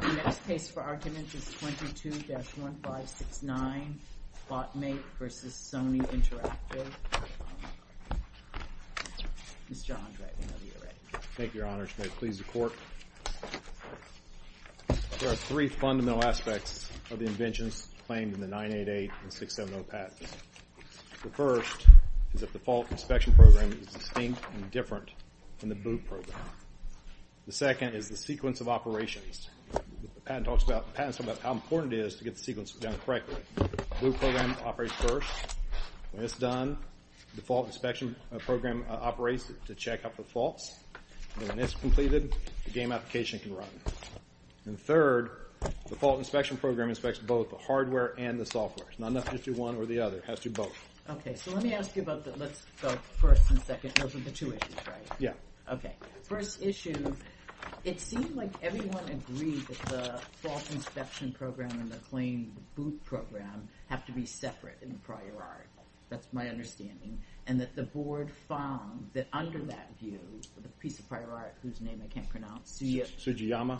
The next case for argument is 22-1569, Bot M8 v. Sony Interactive. Mr. Andre, whenever you're ready. Thank you, Your Honor. May it please the Court? There are three fundamental aspects of the inventions claimed in the 988 and 670 patents. The first is that the fault inspection program is distinct and different than the boot program. The second is the sequence of operations. The patent talks about how important it is to get the sequence done correctly. The boot program operates first. When it's done, the fault inspection program operates to check up the faults. And when it's completed, the game application can run. And third, the fault inspection program inspects both the hardware and the software. It's not enough to just do one or the other. It has to do both. Okay, so let me ask you about the first and second. Those are the two issues, right? Yeah. Okay, first issue, it seemed like everyone agreed that the fault inspection program and the claimed boot program have to be separate in the prior art. That's my understanding. And that the Board found that under that view, the piece of prior art, whose name I can't pronounce, Sugiyama,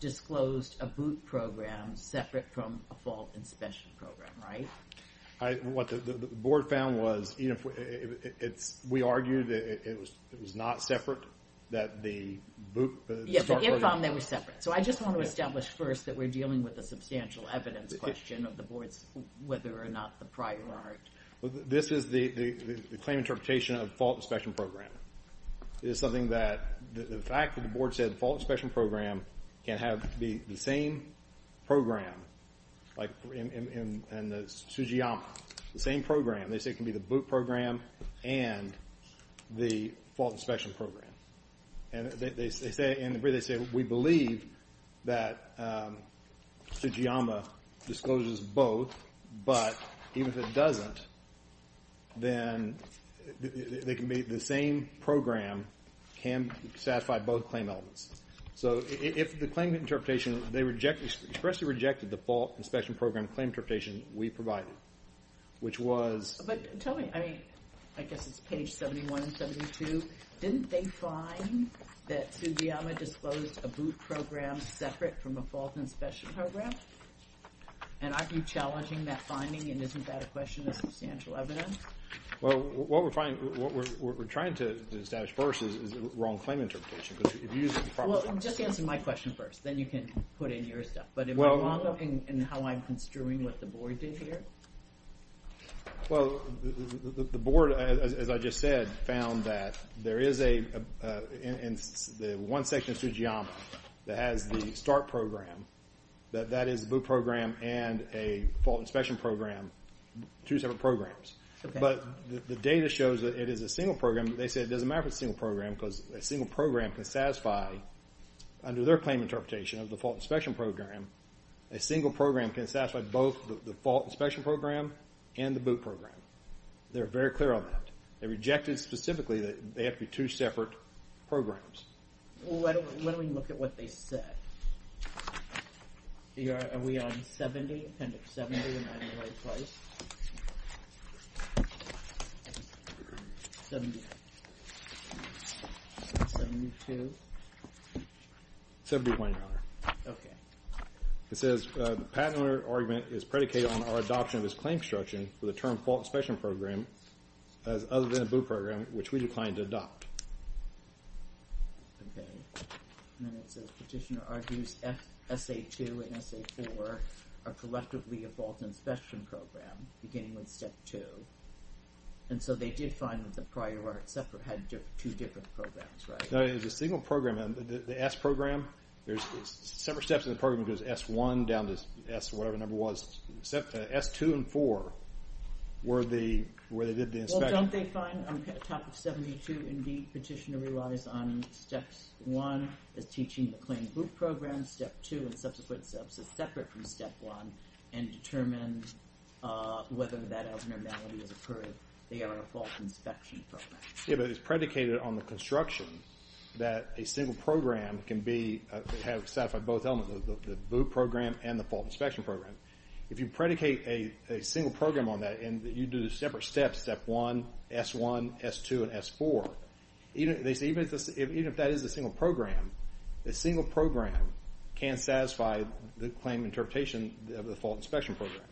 disclosed a boot program separate from a fault inspection program, right? What the Board found was, you know, we argued that it was not separate, that the boot... Yes, but it found they were separate. So I just want to establish first that we're dealing with a substantial evidence question of the Board's whether or not the prior art... This is the claim interpretation of fault inspection program. It is something that the fact that the Board said fault inspection program can have the same program like in Sugiyama, the same program. They said it can be the boot program and the fault inspection program. And they say, in the brief, they say, we believe that Sugiyama discloses both, but even if it doesn't, then they can be the same program can satisfy both claim elements. So if the claim interpretation, they expressly rejected the fault inspection program claim interpretation we provided, which was... But tell me, I mean, I guess it's page 71 and 72. Didn't they find that Sugiyama disclosed a boot program separate from a fault inspection program? And aren't you challenging that finding and isn't that a question of substantial evidence? Well, what we're trying to establish first is wrong claim interpretation Well, just answer my question first, then you can put in your stuff. But am I wrong in how I'm construing what the Board did here? Well, the Board, as I just said, found that there is one section of Sugiyama that has the start program. That is the boot program and a fault inspection program, two separate programs. But the data shows that it is a single program. They said it doesn't matter if it's a single program because a single program can satisfy, under their claim interpretation of the fault inspection program, a single program can satisfy both the fault inspection program and the boot program. They're very clear on that. They rejected specifically that they have to be two separate programs. Well, why don't we look at what they said. Are we on 70, appendix 70, am I in the right place? 70. 72. 71, Your Honor. Okay. It says the patent owner argument is predicated on our adoption of his claim construction for the term fault inspection program as other than a boot program, which we declined to adopt. Okay. And then it says petitioner argues S.A.2 and S.A.4 are collectively a fault inspection program, beginning with Step 2. And so they did find that the prior art separate had two different programs, right? No, it was a single program. The S program, there's separate steps in the program that goes S1 down to S, whatever the number was. S2 and 4 were the, where they did the inspection. Well, don't they find on Topic 72, indeed petitioner relies on Step 1 as teaching the claim boot program, Step 2 and subsequent steps as separate from Step 1 and determine whether that abnormality has occurred. They are a fault inspection program. Yeah, but it's predicated on the construction that a single program can be, have satisfied both elements, the boot program and the fault inspection program. If you predicate a single program on that and you do the separate steps, Step 1, S1, S2, and S4, even if that is a single program, a single program can't satisfy the claim interpretation of the fault inspection program.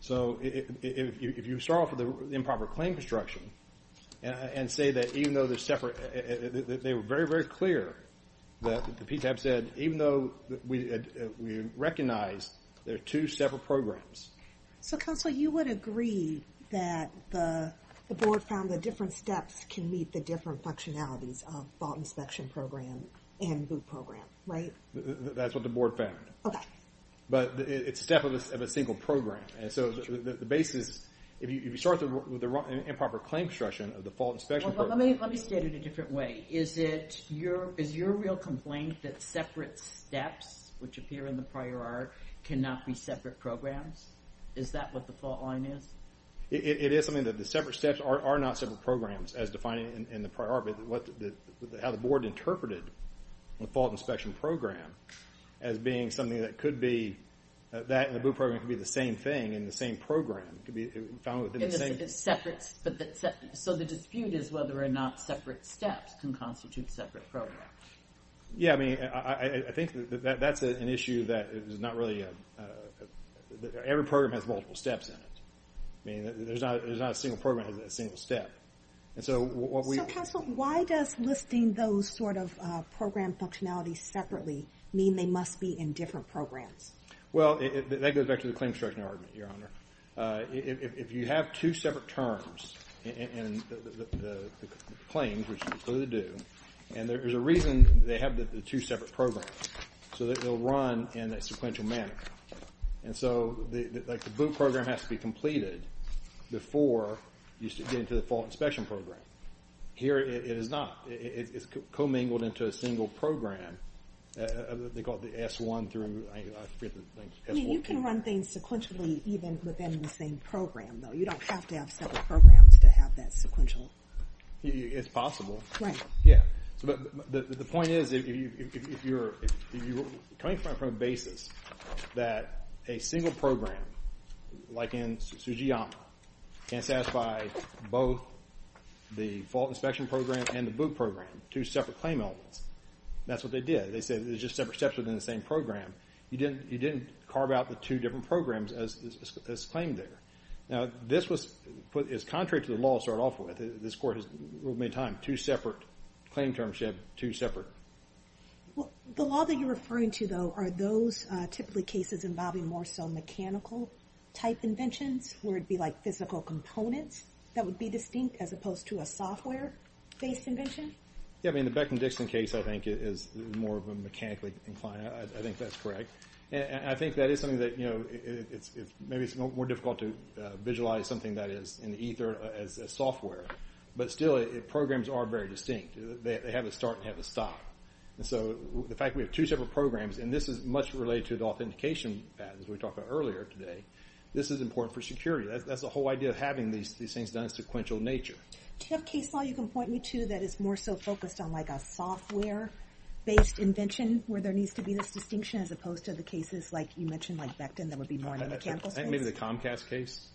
So if you start off with improper claim construction and say that even though they're separate, they were very, very clear that the PTAP said, even though we recognize they're two separate programs. So, Counselor, you would agree that the board found that different steps can meet the different functionalities of fault inspection program and boot program, right? That's what the board found. But it's a step of a single program. And so the basis, if you start with an improper claim construction of the fault inspection program... Well, let me state it a different way. Is your real complaint that separate steps, which appear in the prior art, cannot be separate programs? Is that what the fault line is? It is something that the separate steps are not separate programs, as defined in the prior art, but how the board interpreted the fault inspection program as being something that could be, that and the boot program could be the same thing in the same program. So the dispute is whether or not separate steps can constitute separate programs. Yeah, I mean, I think that that's an issue that is not really... Every program has multiple steps in it. I mean, there's not a single program that has a single step. And so what we... So, Counsel, why does listing those sort of program functionalities separately mean they must be in different programs? Well, that goes back to the claim structure argument, Your Honor. If you have two separate terms in the claims, which is what they do, and there's a reason they have the two separate programs, so that they'll run in a sequential manner. And so, like, the boot program has to be completed before you get into the fault inspection program. Here it is not. It's commingled into a single program. They call it the S-1 through... I mean, you can run things sequentially even within the same program, though. You don't have to have separate programs to have that sequential... It's possible. Right. Yeah. The point is, if you're coming from a basis that a single program, like in Tsujiyama, can satisfy both the fault inspection program and the boot program, two separate claim elements, that's what they did. They said there's just separate steps within the same program. You didn't carve out the two different programs as claimed there. Now, this was contrary to the law to start off with. This Court has ruled many times, two separate claim terms, you have two separate. Well, the law that you're referring to, though, are those typically cases involving more so mechanical-type inventions, where it would be, like, physical components that would be distinct as opposed to a software-based invention? Yeah, I mean, the Beckman-Dixon case, I think, is more of a mechanically inclined... I think that's correct. And I think that is something that, you know, maybe it's more difficult to visualize something that is in ether as software. But still, programs are very distinct. They have a start and have a stop. And so the fact we have two separate programs, and this is much related to the authentication path, as we talked about earlier today, this is important for security. That's the whole idea of having these things done in a sequential nature. Do you have a case law you can point me to that is more so focused on, like, a software-based invention where there needs to be this distinction as opposed to the cases, like you mentioned, like Beckton, that would be more of a mechanical case? I think maybe the Comcast case.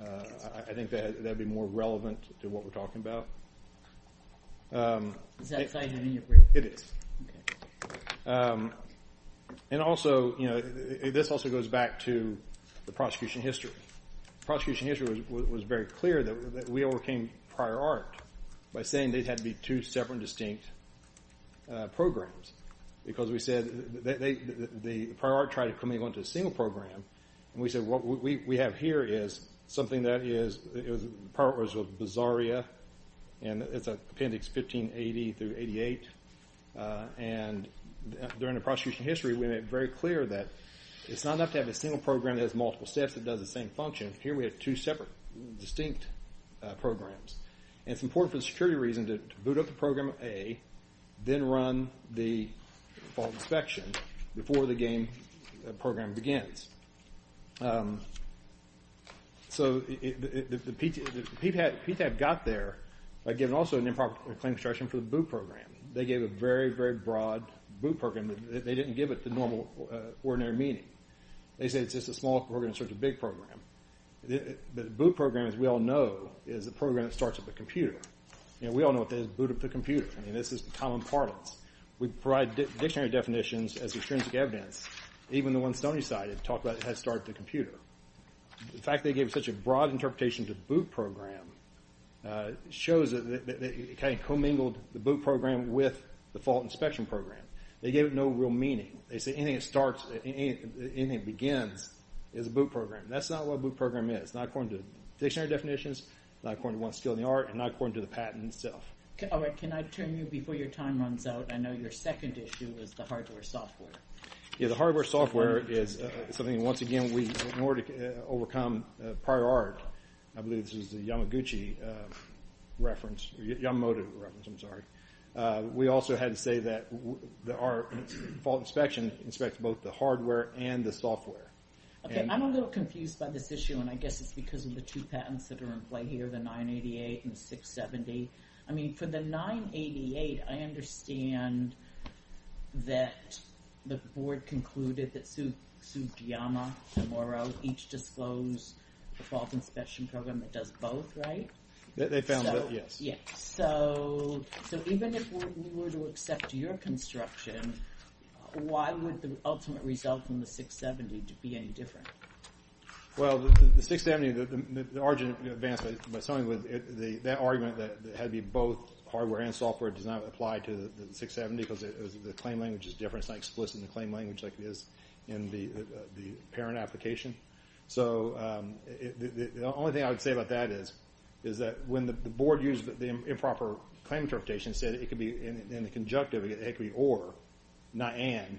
I think that would be more relevant to what we're talking about. Is that cited in your brief? It is. And also, you know, this also goes back to the prosecution history. The prosecution history was very clear that we overcame prior art by saying they had to be two separate and distinct programs because we said the prior art tried to come in and go into a single program. And we said what we have here is something that is, the prior art was Bizarria, and it's appendix 1580 through 88. And during the prosecution history, we made it very clear that it's not enough to have a single program that has multiple steps that does the same function. Here we have two separate, distinct programs. And it's important for the security reason to boot up the program A, then run the fault inspection before the game program begins. So PTAB got there by giving also an improper claim instruction for the boot program. They gave a very, very broad boot program. They didn't give it the normal, ordinary meaning. They said it's just a small program in search of a big program. The boot program, as we all know, is a program that starts at the computer. We all know what that is, boot up the computer. I mean, this is the common parlance. We provide dictionary definitions as extrinsic evidence. Even the one Stoney cited talked about it had to start at the computer. The fact they gave such a broad interpretation to the boot program shows that they kind of commingled the boot program with the fault inspection program. They gave it no real meaning. They say anything that starts, anything that begins is a boot program. That's not what a boot program is. It's not according to dictionary definitions, not according to one skill in the art, and not according to the patent itself. All right, can I turn you, before your time runs out, I know your second issue was the hardware software. Yeah, the hardware software is something, once again, in order to overcome prior art, I believe this was the Yamaguchi reference, Yamamoto reference, I'm sorry. We also had to say that our fault inspection inspects both the hardware and the software. Okay, I'm a little confused by this issue, and I guess it's because of the two patents that are in play here, the 988 and the 670. I mean, for the 988, I understand that the board concluded that Tsujiyama and Morrow each disclosed the fault inspection program that does both, right? They found both, yes. Yes, so even if we were to accept your construction, why would the ultimate result from the 670 be any different? Well, the 670, the argument that had to be both hardware and software does not apply to the 670 because the claim language is different. It's not explicit in the claim language like it is in the parent application. So the only thing I would say about that is that when the board used the improper claim interpretation, it said it could be in the conjunctive, it could be or, not and.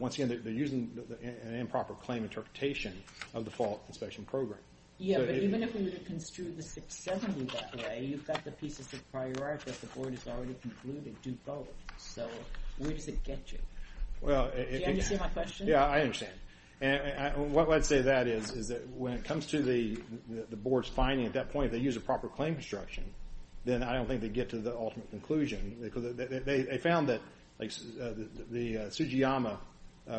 Once again, they're using an improper claim interpretation of the fault inspection program. Yeah, but even if we were to construe the 670 that way, you've got the pieces of prior art that the board has already concluded do both, so where does it get you? Do you understand my question? Yeah, I understand. What I'd say that is is that when it comes to the board's finding, at that point, if they use a proper claim construction, then I don't think they get to the ultimate conclusion. They found that the Tsujiyama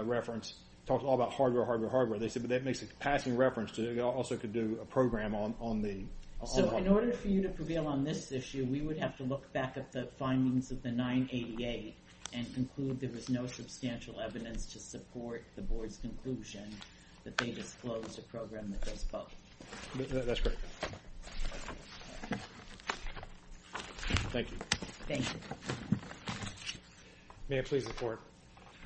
reference talks all about hardware, hardware, hardware. They said, but that makes a passing reference to also could do a program on the hardware. So in order for you to prevail on this issue, we would have to look back at the findings of the 988 and conclude there was no substantial evidence to support the board's conclusion that they disclosed a program that does both. That's great. Thank you. Thank you. May I please report?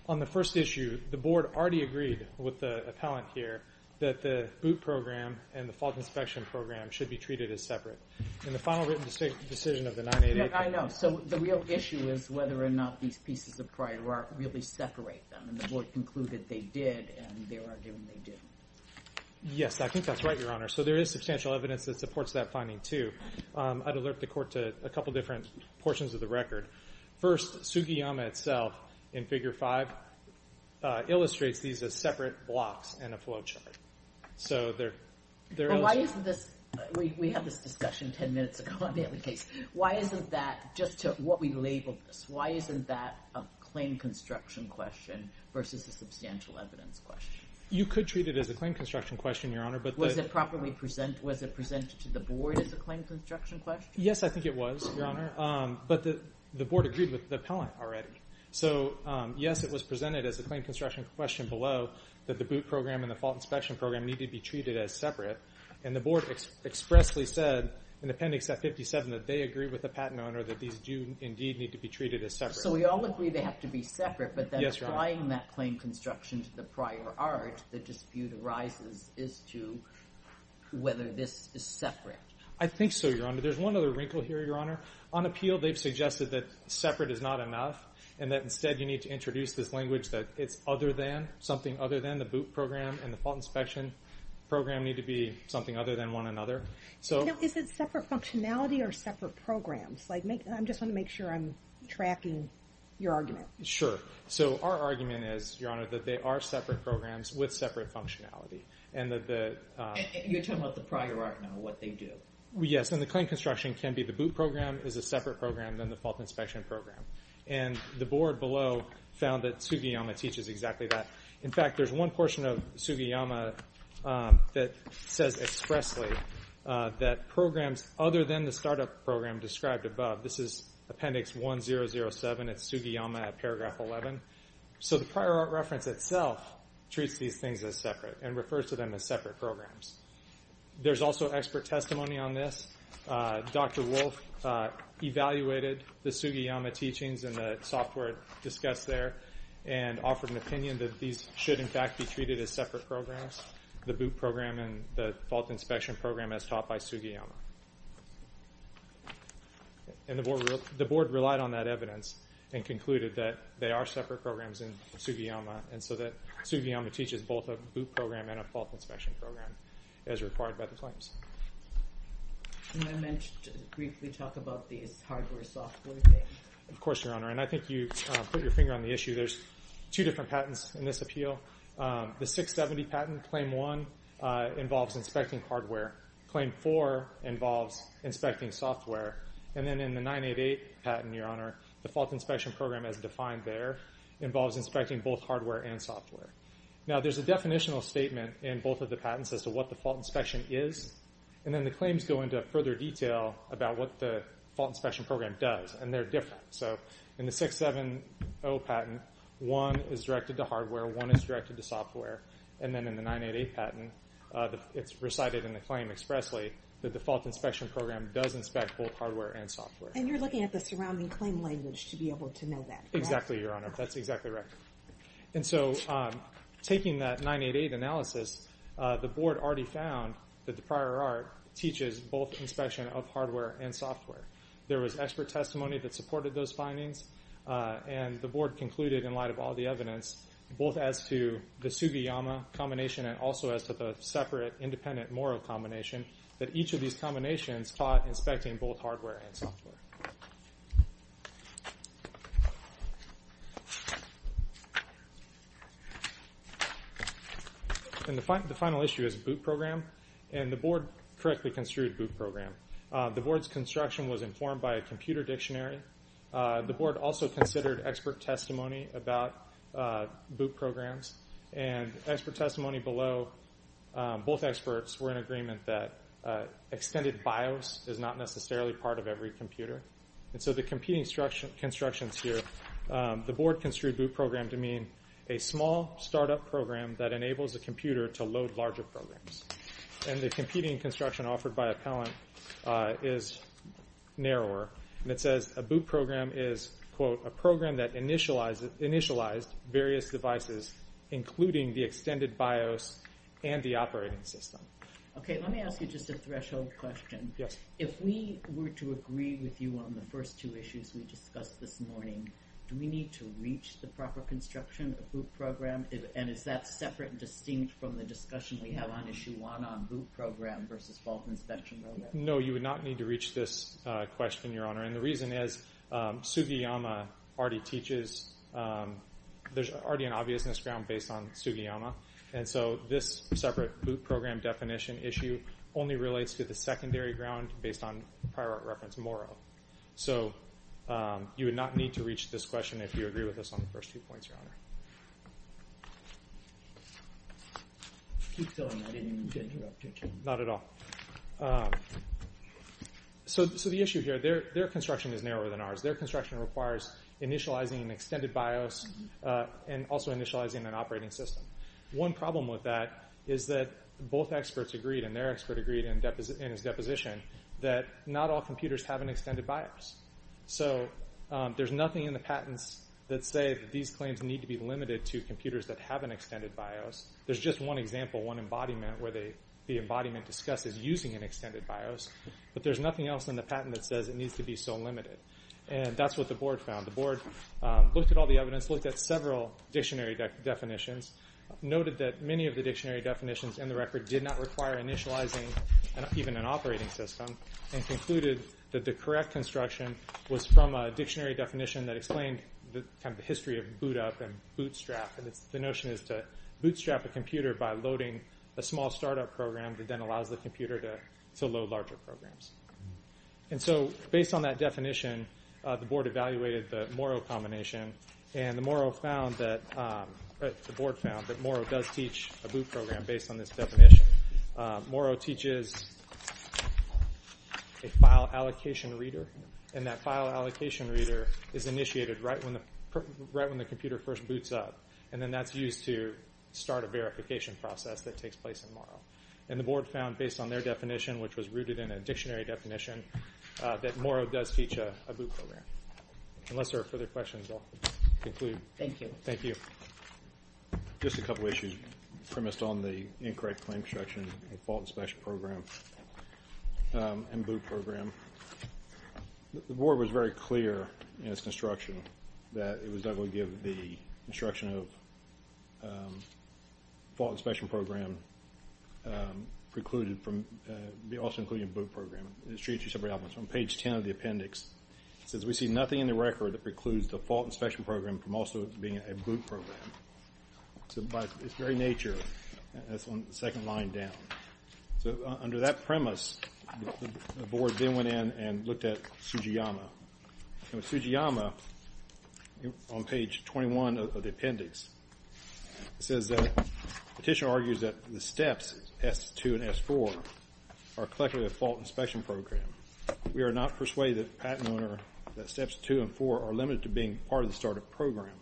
On the first issue, the board already agreed with the appellant here that the boot program and the fault inspection program should be treated as separate. In the final written decision of the 988. Yeah, I know. So the real issue is whether or not these pieces of prior art really separate them, and the board concluded they did, and they're arguing they didn't. Yes, I think that's right, Your Honor. So there is substantial evidence that supports that finding, too. I'd alert the court to a couple different portions of the record. First, Tsujiyama itself, in Figure 5, illustrates these as separate blocks in a flow chart. So there is a difference. We had this discussion 10 minutes ago on the case. Why isn't that, just to what we labeled this, why isn't that a claim construction question versus a substantial evidence question? You could treat it as a claim construction question, Your Honor. Was it properly presented? Was it presented to the board as a claim construction question? Yes, I think it was, Your Honor. But the board agreed with the appellant already. So, yes, it was presented as a claim construction question below that the boot program and the fault inspection program need to be treated as separate, and the board expressly said in Appendix F57 that they agree with the patent owner that these do indeed need to be treated as separate. So we all agree they have to be separate, but then applying that claim construction to the prior art, the dispute arises as to whether this is separate. I think so, Your Honor. There's one other wrinkle here, Your Honor. On appeal, they've suggested that separate is not enough, and that instead you need to introduce this language that it's something other than the boot program and the fault inspection program need to be something other than one another. Is it separate functionality or separate programs? I just want to make sure I'm tracking your argument. Sure. So our argument is, Your Honor, that they are separate programs with separate functionality. And that the... You're talking about the prior art now, what they do. Yes, and the claim construction can be the boot program is a separate program than the fault inspection program. And the board below found that Sugiyama teaches exactly that. In fact, there's one portion of Sugiyama that says expressly that programs other than the startup program described above, this is appendix 1007, it's Sugiyama at paragraph 11. So the prior art reference itself treats these things as separate and refers to them as separate programs. There's also expert testimony on this. Dr. Wolf evaluated the Sugiyama teachings and the software discussed there and offered an opinion that these should, in fact, be treated as separate programs, the boot program and the fault inspection program as taught by Sugiyama. And the board relied on that evidence and concluded that they are separate programs in Sugiyama and so that Sugiyama teaches both a boot program and a fault inspection program as required by the claims. And I meant to briefly talk about these hardware software things. Of course, Your Honor, and I think you put your finger on the issue. There's two different patents in this appeal. The 670 patent, claim 1, involves inspecting hardware. Claim 4 involves inspecting software. And then in the 988 patent, Your Honor, the fault inspection program as defined there involves inspecting both hardware and software. Now, there's a definitional statement in both of the patents as to what the fault inspection is. And then the claims go into further detail about what the fault inspection program does. And they're different. So in the 670 patent, one is directed to hardware, one is directed to software. And then in the 988 patent, it's recited in the claim expressly, the default inspection program does inspect both hardware and software. And you're looking at the surrounding claim language to be able to know that, correct? Exactly, Your Honor. That's exactly right. And so taking that 988 analysis, the board already found that the prior art teaches both inspection of hardware and software. There was expert testimony that supported those findings, and the board concluded in light of all the evidence, both as to the Sugiyama combination and also as to the separate independent Morrow combination, that each of these combinations taught inspecting both hardware and software. And the final issue is boot program. And the board correctly construed boot program. The board's construction was informed by a computer dictionary. The board also considered expert testimony about boot programs. And expert testimony below, both experts were in agreement that extended BIOS is not necessarily part of every computer. And so the competing constructions here, the board construed boot program to mean a small startup program that enables the computer to load larger programs. And the competing construction offered by appellant is narrower. And it says a boot program is, quote, a program that initialized various devices, including the extended BIOS and the operating system. Okay, let me ask you just a threshold question. Yes. If we were to agree with you on the first two issues we discussed this morning, do we need to reach the proper construction of boot program? And is that separate and distinct from the discussion we had on Issue 1 on boot program versus fault inspection? No, you would not need to reach this question, Your Honor. And the reason is Sugiyama already teaches. There's already an obviousness ground based on Sugiyama. And so this separate boot program definition issue only relates to the secondary ground based on prior reference Morrow. So you would not need to reach this question if you agree with us on the first two points, Your Honor. Keep going. I didn't mean to interrupt you. Not at all. So the issue here, their construction is narrower than ours. Their construction requires initializing an extended BIOS and also initializing an operating system. One problem with that is that both experts agreed, and their expert agreed in his deposition, that not all computers have an extended BIOS. So there's nothing in the patents that say that these claims need to be limited to computers that have an extended BIOS. There's just one example, one embodiment, where the embodiment discusses using an extended BIOS. But there's nothing else in the patent that says it needs to be so limited. And that's what the Board found. The Board looked at all the evidence, looked at several dictionary definitions, noted that many of the dictionary definitions in the record did not require initializing even an operating system, and concluded that the correct construction was from a dictionary definition that explained the history of boot-up and bootstrap. The notion is to bootstrap a computer by loading a small startup program that then allows the computer to load larger programs. And so based on that definition, the Board evaluated the Morrow combination, and the Morrow found that the Board found that Morrow does teach a boot program based on this definition. Morrow teaches a file allocation reader, and that file allocation reader is initiated right when the computer first boots up, and then that's used to start a verification process that takes place in Morrow. And the Board found, based on their definition, which was rooted in a dictionary definition, that Morrow does teach a boot program. Unless there are further questions, I'll conclude. Thank you. Thank you. Just a couple of issues premised on the incorrect claim construction of a fault inspection program and boot program. The Board was very clear in its construction that it was not going to give the construction of a fault inspection program precluded from also including a boot program. It's treated as separate elements. On page 10 of the appendix, it says, we see nothing in the record that precludes the fault inspection program from also being a boot program. So by its very nature, that's on the second line down. So under that premise, the Board then went in and looked at Tsujiyama. And with Tsujiyama, on page 21 of the appendix, it says that the petitioner argues that the steps, S2 and S4, are collectively a fault inspection program. We are not persuaded that steps two and four are limited to being part of the startup program.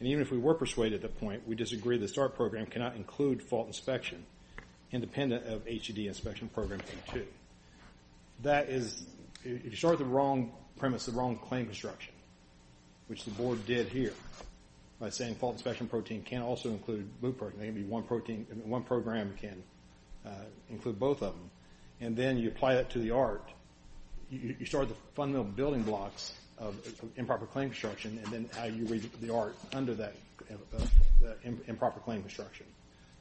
And even if we were persuaded at that point, we disagree that the startup program cannot include fault inspection independent of HED inspection program two. That is, if you start with the wrong premise, the wrong claim construction, which the Board did here by saying fault inspection protein can't also include boot program. One program can include both of them. And then you apply that to the art. You start the fundamental building blocks of improper claim construction and then argue the art under that improper claim construction.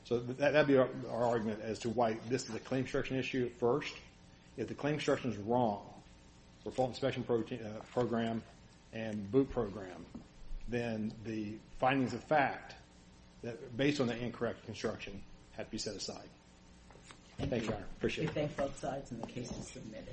So that would be our argument as to why this is a claim construction issue at first. If the claim construction is wrong for fault inspection program and boot program, then the findings of fact based on the incorrect construction have to be set aside. Thank you, Your Honor. Appreciate it. We thank both sides and the case is submitted.